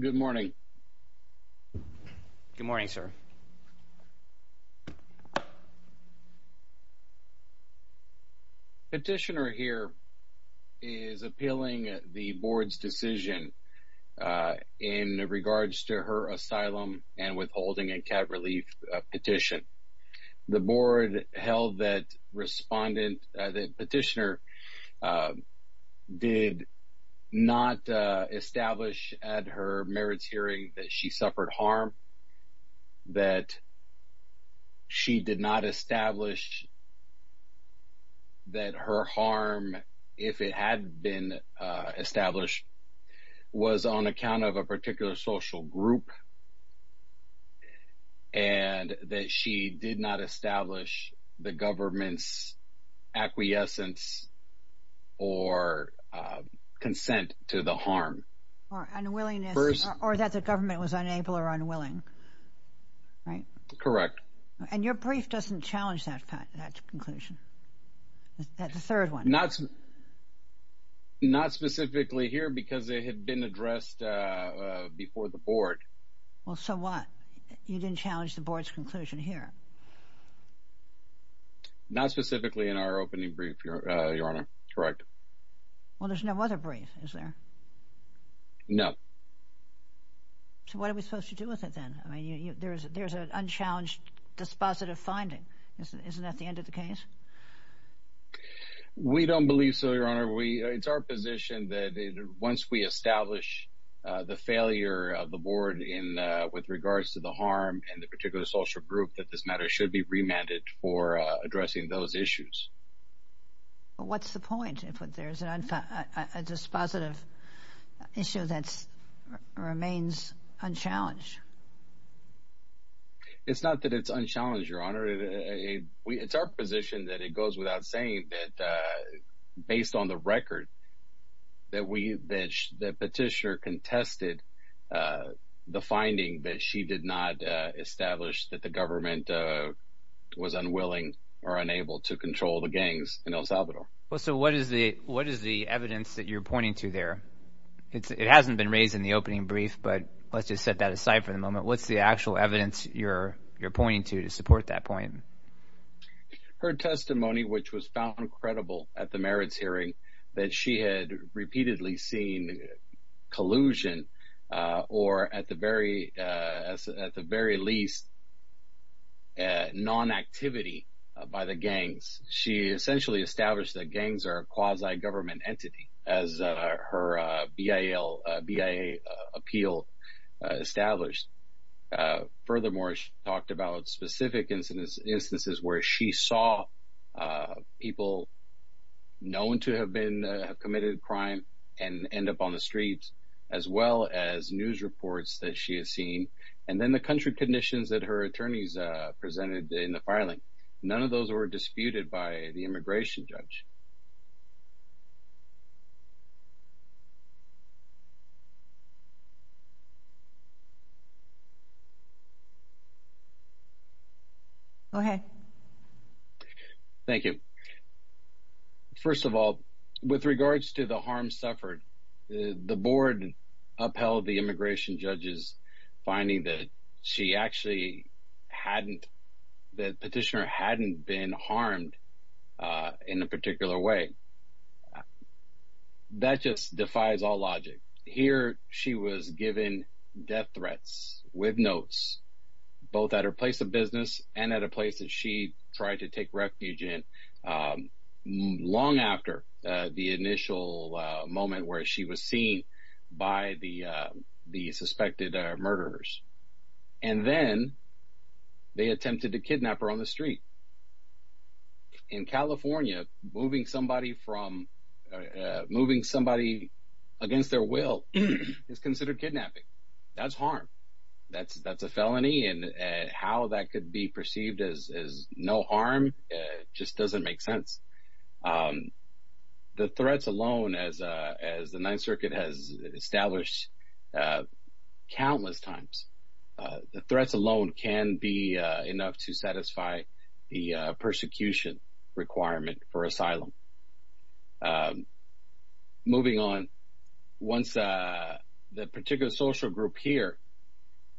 Good morning. Good morning, sir. Petitioner here is appealing the board's decision in regards to her asylum and withholding a cat relief petition. The board held that respondent that petitioner did not establish at her merits hearing that she suffered harm, that she did not establish that her harm, if it had been established, was on account of a particular acquiescence or consent to the harm. Or unwillingness, or that the government was unable or unwilling, right? Correct. And your brief doesn't challenge that conclusion? That third one? Not specifically here because it had been addressed before the board. Well, so what? You didn't challenge the board's conclusion here? Not specifically in our opening brief, Your Honor. Correct. Well, there's no other brief, is there? No. So what are we supposed to do with it then? I mean, there's an unchallenged dispositive finding. Isn't that the end of the case? We don't believe so, Your Honor. It's our position that once we establish the failure of the board with regards to the harm and the particular social group, that this matter should be remanded for addressing those issues. What's the point if there's a dispositive issue that remains unchallenged? It's not that it's unchallenged, Your Honor. It's our position that it goes without saying that based on the record that Petitioner contested the finding that she did not establish that the government was unwilling or unable to control the gangs in El Salvador. Well, so what is the evidence that you're pointing to there? It hasn't been raised in the opening brief, but let's just set that aside for the moment. What's the actual evidence you're pointing to to support that point? Her testimony, which was found credible at the merits hearing, that she had repeatedly seen collusion or at the very least non-activity by the gangs or a quasi-government entity, as her BIA appeal established. Furthermore, she talked about specific instances where she saw people known to have committed a crime and end up on the streets, as well as news reports that she has seen, and then the country conditions that her family has suffered. Go ahead. Thank you. First of all, with regards to the harm suffered, the board upheld the immigration judge's finding that she actually hadn't, that Petitioner hadn't been harmed in a particular way. That just defies all logic. Here she was given death threats with notes, both at her place of business and at a place that she tried to take refuge in long after the initial moment where she was seen by the suspected murderers. And then they attempted to kidnap her on the street. In California, moving somebody against their will is considered kidnapping. That's harm. That's a felony, and how that could be perceived as no harm just doesn't make sense. The threats alone, as the Ninth Circuit has established countless times, the threats alone can be enough to satisfy the persecution requirement for asylum. Moving on, once the particular social group here,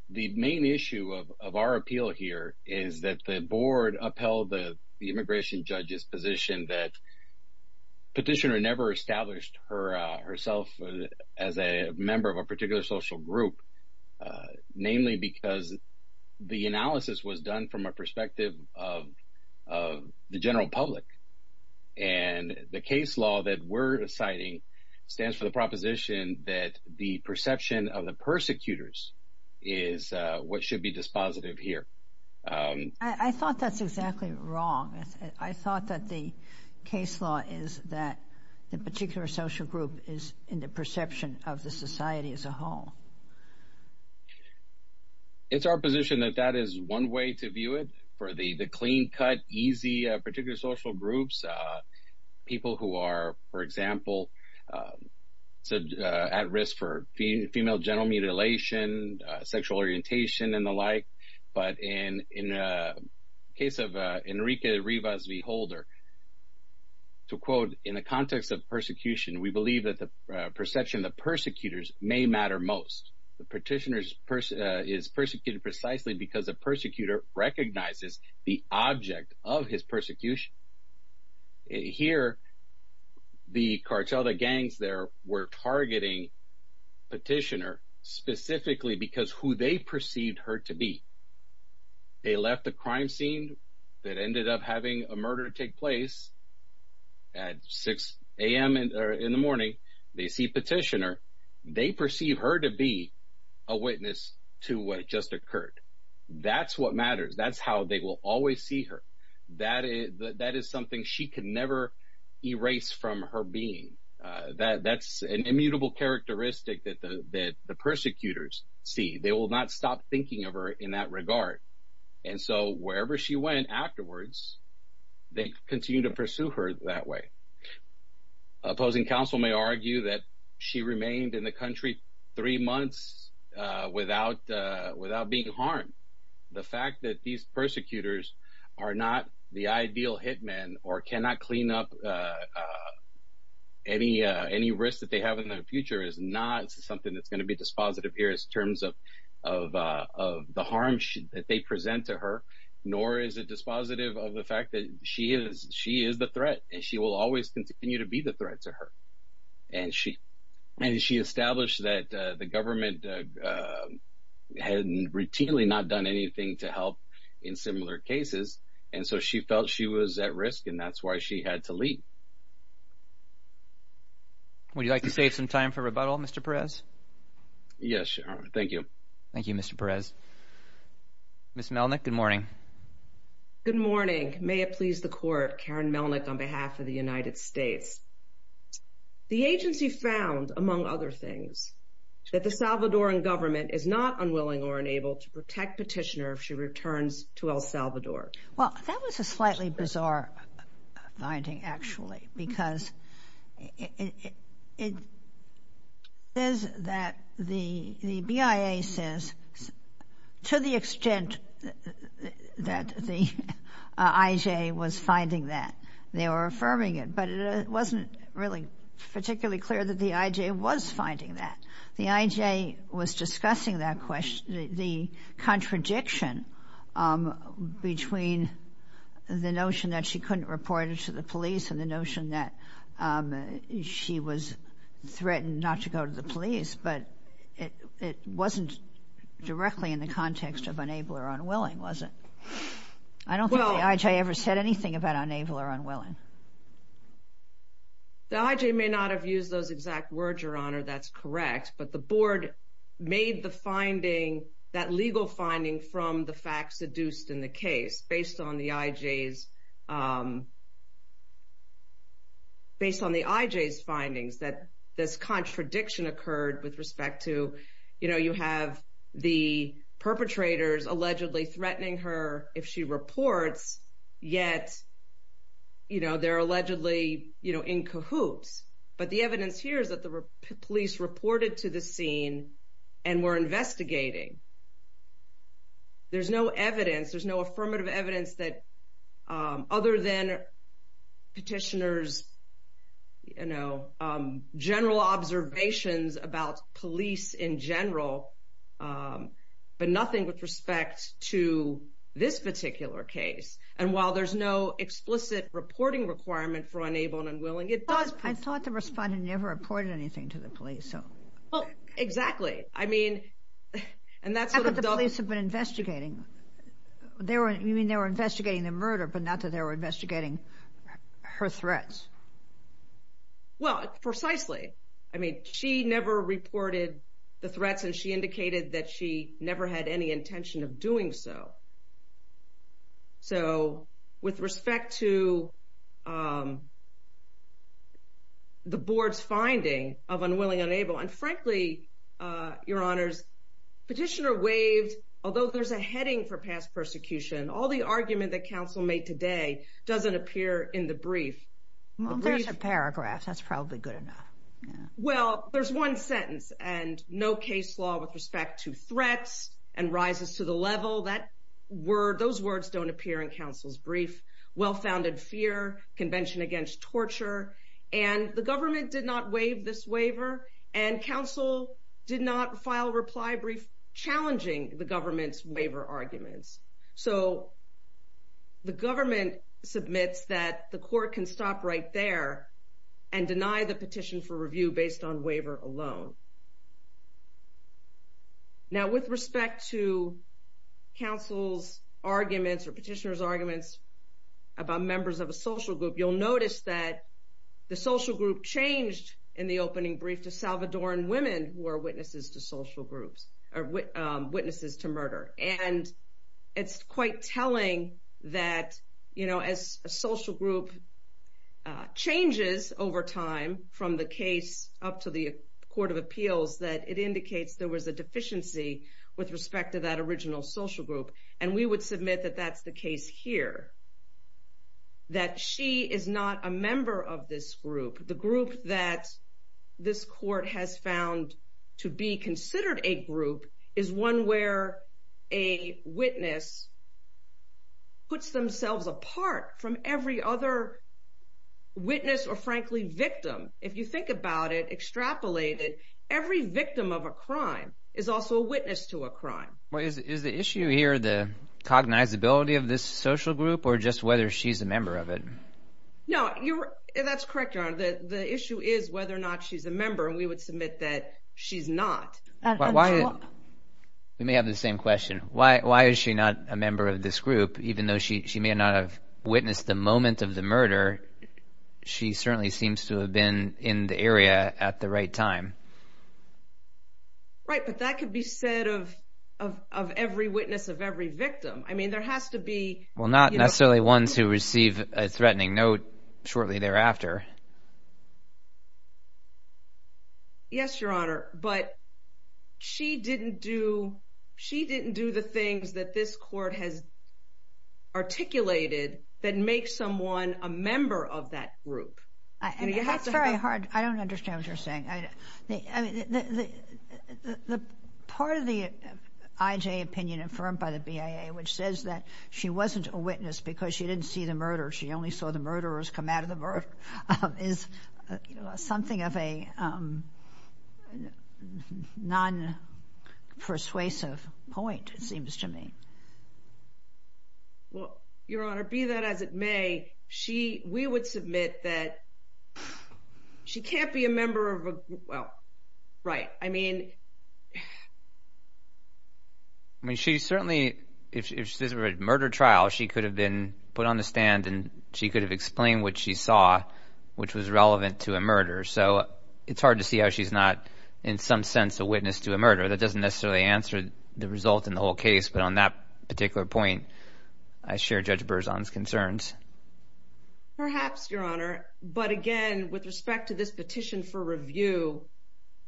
the main issue of our appeal here is that the board upheld the immigration judge's position that Petitioner never established herself as a member of a particular social group, namely because the analysis was done from a perspective of the general public, and the case law that we're citing stands for the proposition that the perception of the persecutors is what should be dispositive here. I thought that's exactly wrong. I thought that the case law is that the particular social group is in the perception of the society as a whole. It's our position that that is one way to view it, for the clean-cut, easy particular social groups, people who are, for example, at risk for female genital mutilation, sexual orientation, and the like. But in the case of Enrique Rivas V. Holder, to quote, in the context of persecution, we believe that the perception of the persecutors may matter most. The petitioner is persecuted precisely because the persecutor recognizes the object of his persecution. Here, the cartel, the gangs there, were targeting Petitioner specifically because who they perceived her to be. They left the crime scene that ended up having a murder take place at 6 a.m. in the morning. They see Petitioner. They perceive her to be a witness to what just occurred. That's what matters. That's how they will always see her. That is something she can never erase from her being. That's an immutable characteristic that the persecutors see. They will not stop thinking of her in that regard. And so, wherever she went afterwards, they continue to pursue her that way. Opposing counsel may argue that she remained in the country three months without being harmed. The fact that these persecutors are not the ideal hitmen or cannot clean up any risk that they have in the future is not something that's going to be dispositive here in terms of the harm that they present to her. Nor is it dispositive of the fact that she is the threat. She will always continue to be the threat to her. And she established that the government had routinely not done anything to help in similar cases. And so, she felt she was at risk, and that's why she had to leave. Would you like to save some time for rebuttal, Mr. Perez? Yes, Your Honor. Thank you. Thank you, Mr. Perez. Ms. Melnick, good morning. Good morning. May it please the Court, Karen Melnick on behalf of the United States. The agency found, among other things, that the Salvadoran government is not unwilling or unable to protect Petitioner if she returns to El Salvador. Well, that was a slightly bizarre finding, actually, because it says that the BIA says, to the extent that the IJ was finding that, they were affirming it. It wasn't really particularly clear that the IJ was finding that. The IJ was discussing that question, the contradiction between the notion that she couldn't report it to the police and the notion that she was threatened not to go to the police. But it wasn't directly in the context of unable or unwilling, was it? I don't think the IJ ever said anything about unable or unwilling. The IJ may not have used those exact words, Your Honor. That's correct. But the Board made the finding, that legal finding, from the facts seduced in the case based on the IJ's findings that this contradiction occurred with respect to, you know, you have the perpetrators allegedly threatening her if she reports, yet, you know, they're allegedly, you know, in cahoots. But the evidence here is that the police reported to the scene and were investigating. There's no evidence, there's no affirmative evidence that, other than Petitioner's, you know, general observations about police in general, but nothing with respect to this particular case. And while there's no explicit reporting requirement for unable and unwilling, it does... I thought the respondent never reported anything to the police. Well, exactly. I mean, and that's... How could the police have been investigating? You mean they were investigating the murder, but not that they were investigating her threats? Well, precisely. I mean, she never reported the threats and she indicated that she never had any intention of doing so. So, with respect to the Board's finding of unwilling, unable, and frankly, Your Honors, Petitioner waived, although there's a heading for past persecution, all the argument that counsel made today doesn't appear in the brief. Well, there's a paragraph. That's probably good enough. Well, there's one sentence, and no case law with respect to threats and rises to the level. Those words don't appear in counsel's brief. Well-founded fear, convention against torture, and the government did not waive this waiver, and counsel did not file a reply brief challenging the government's waiver arguments. So, the government submits that the court can stop right there and deny the petition for review based on waiver alone. Now, with respect to counsel's arguments or petitioner's arguments about members of a social group, you'll notice that the social group changed in the opening brief to Salvadoran women who are witnesses to social groups, or witnesses to murder. And it's quite telling that, you know, as a social group changes over time from the case up to the Court of Appeals, that it indicates there was a deficiency with respect to that original social group. And we would submit that that's the case here, that she is not a member of this group. The group that this court has found to be considered a group is one where a witness puts themselves apart from every other witness or, frankly, victim. If you think about it, extrapolate it, every victim of a crime is also a witness to a crime. Is the issue here the cognizability of this social group or just whether she's a member of it? No, that's correct, Your Honor. The issue is whether or not she's a member, and we would submit that she's not. We may have the same question. Why is she not a member of this group? Even though she may not have witnessed the moment of the murder, she certainly seems to have been in the area at the right time. Right, but that could be said of every witness of every victim. I mean, there has to be... Well, not necessarily ones who receive a threatening note shortly thereafter. Yes, Your Honor, but she didn't do the things that this court has articulated that make someone a member of that group. That's very hard. I don't understand what you're saying. The part of the IJ opinion affirmed by the BIA which says that she wasn't a witness because she didn't see the murder, she only saw the murderers come out of the murder, is something of a non-persuasive point, it seems to me. Well, Your Honor, be that as it may, we would submit that she can't be a member of a group... Well, right, I mean... I mean, she certainly, if this were a murder trial, she could have been put on the stand and she could have explained what she saw, which was relevant to a murder, so it's hard to see how she's not in some sense a witness to a murder. That doesn't necessarily answer the result in the whole case, but on that particular point, I share Judge Berzon's concerns. Perhaps, Your Honor, but again, with respect to this petition for review,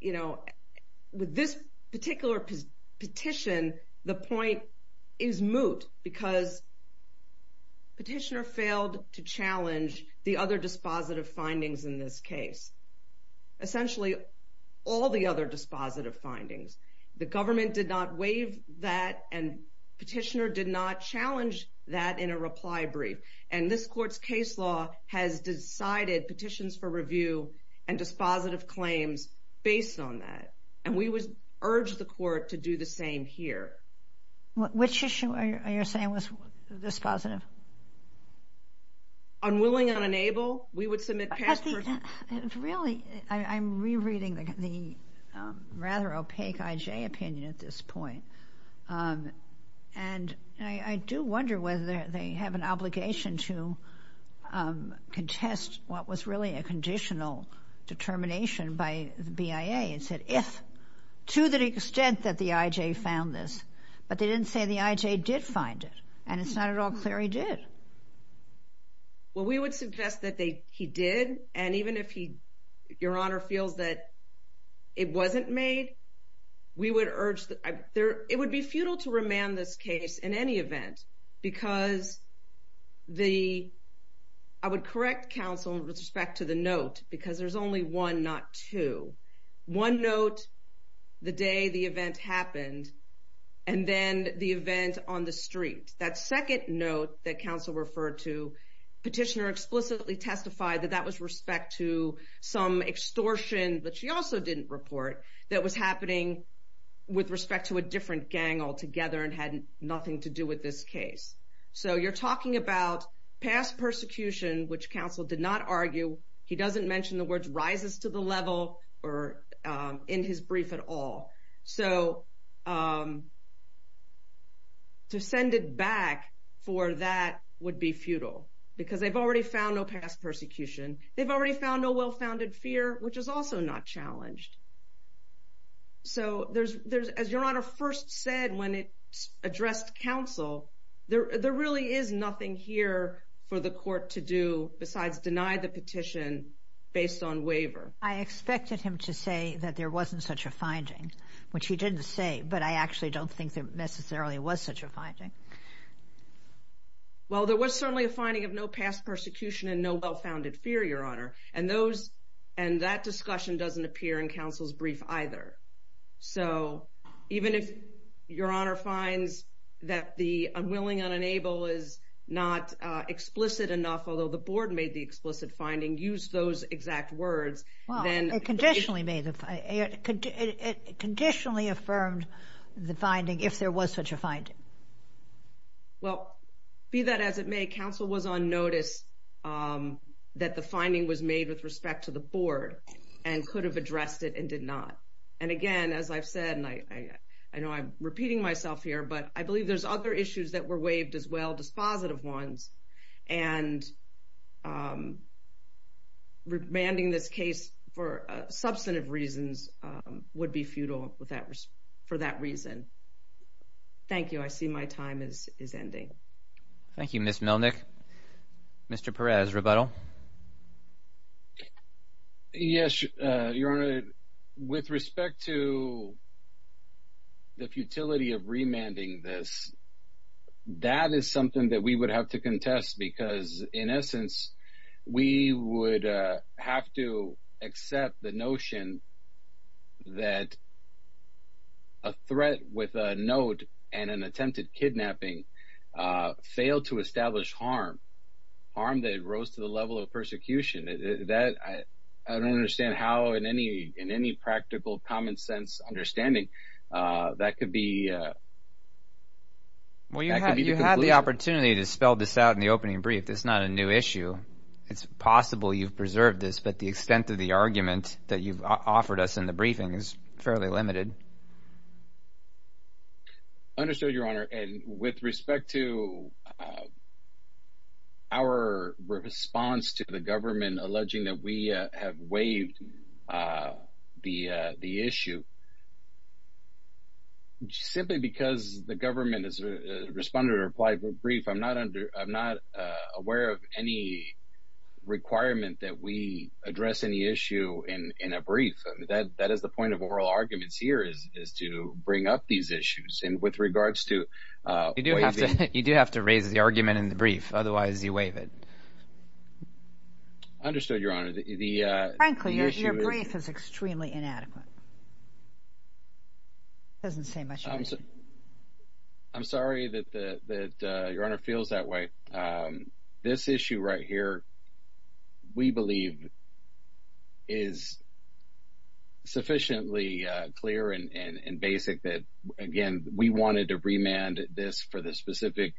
you know, with this particular petition, the point is moot because the petitioner failed to challenge the other dispositive findings in this case. Essentially, all the other dispositive findings. The government did not waive that and the petitioner did not challenge that in a reply brief, and this Court's case law has decided petitions for review and dispositive claims based on that, and we would urge the Court to do the same here. Which issue are you saying was dispositive? Unwilling and unable, we would submit... Really, I'm rereading the rather opaque I.J. opinion at this point, and I do wonder whether they have an obligation to contest what was really a conditional determination by the BIA. It said, if, to the extent that the I.J. found this, but they didn't say the I.J. did find it, and it's not at all clear he did. Well, we would suggest that he did, and even if Your Honor feels that it wasn't made, we would urge... It would be futile to remand this case in any event, because I would correct counsel with respect to the note, because there's only one, not two. One note, the day the event happened, and then the event on the street. That second note that counsel referred to, petitioner explicitly testified that that was respect to some extortion, but she also didn't report, that was happening with respect to a different gang altogether, and had nothing to do with this case. So, you're talking about past persecution, which counsel did not argue. He doesn't mention the words rises to the level, or in his brief at all. So, to send it back for that would be futile, because they've already found no past persecution. They've already found no well-founded fear, which is also not challenged. So, as Your Honor first said when it addressed counsel, there really is nothing here for the court to do besides deny the petition based on waiver. I expected him to say that there wasn't such a finding, which he didn't say, but I actually don't think there necessarily was such a finding. Well, there was certainly a finding of no past persecution and no well-founded fear, Your Honor, and that discussion doesn't appear in counsel's brief either. So, even if Your Honor finds that the unwilling, unenable is not explicit enough, although the board made the explicit finding, used those exact words. Well, it conditionally affirmed the finding if there was such a finding. Well, be that as it may, counsel was on notice that the finding was made with respect to the board and could have addressed it and did not. And again, as I've said, and I know I'm repeating myself here, but I believe there's other issues that were waived as well, dispositive ones, and remanding this case for substantive reasons would be futile for that reason. Thank you. I see my time is ending. Thank you, Ms. Milnick. Mr. Perez, rebuttal? Yes, Your Honor. With respect to the futility of remanding this, that is something that we would have to contest because, in essence, we would have to accept the notion that a threat with a note and an attempted kidnapping failed to establish harm, harm that rose to the level of persecution. I don't understand how, in any practical, common-sense understanding, that could be the conclusion. Well, you had the opportunity to spell this out in the opening brief. It's not a new issue. It's possible you've preserved this, but the extent of the argument that you've offered us in the briefing is fairly limited. Understood, Your Honor. And with respect to our response to the government alleging that we have waived the issue, simply because the government has responded or applied for a brief, I'm not aware of any requirement that we address any issue in a brief. That is the point of oral arguments here is to bring up these issues. And with regards to waiving— You do have to raise the argument in the brief. Otherwise, you waive it. Understood, Your Honor. Frankly, your brief is extremely inadequate. It doesn't say much. I'm sorry that Your Honor feels that way. This issue right here, we believe, is sufficiently clear and basic that, again, we wanted to remand this for the specific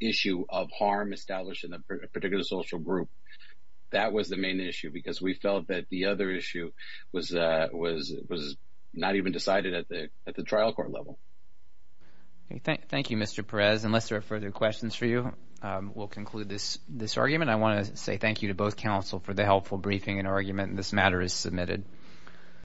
issue of harm established in a particular social group. That was the main issue because we felt that the other issue was not even decided at the trial court level. Thank you, Mr. Perez. Unless there are further questions for you, we'll conclude this argument. I want to say thank you to both counsel for the helpful briefing and argument, and this matter is submitted.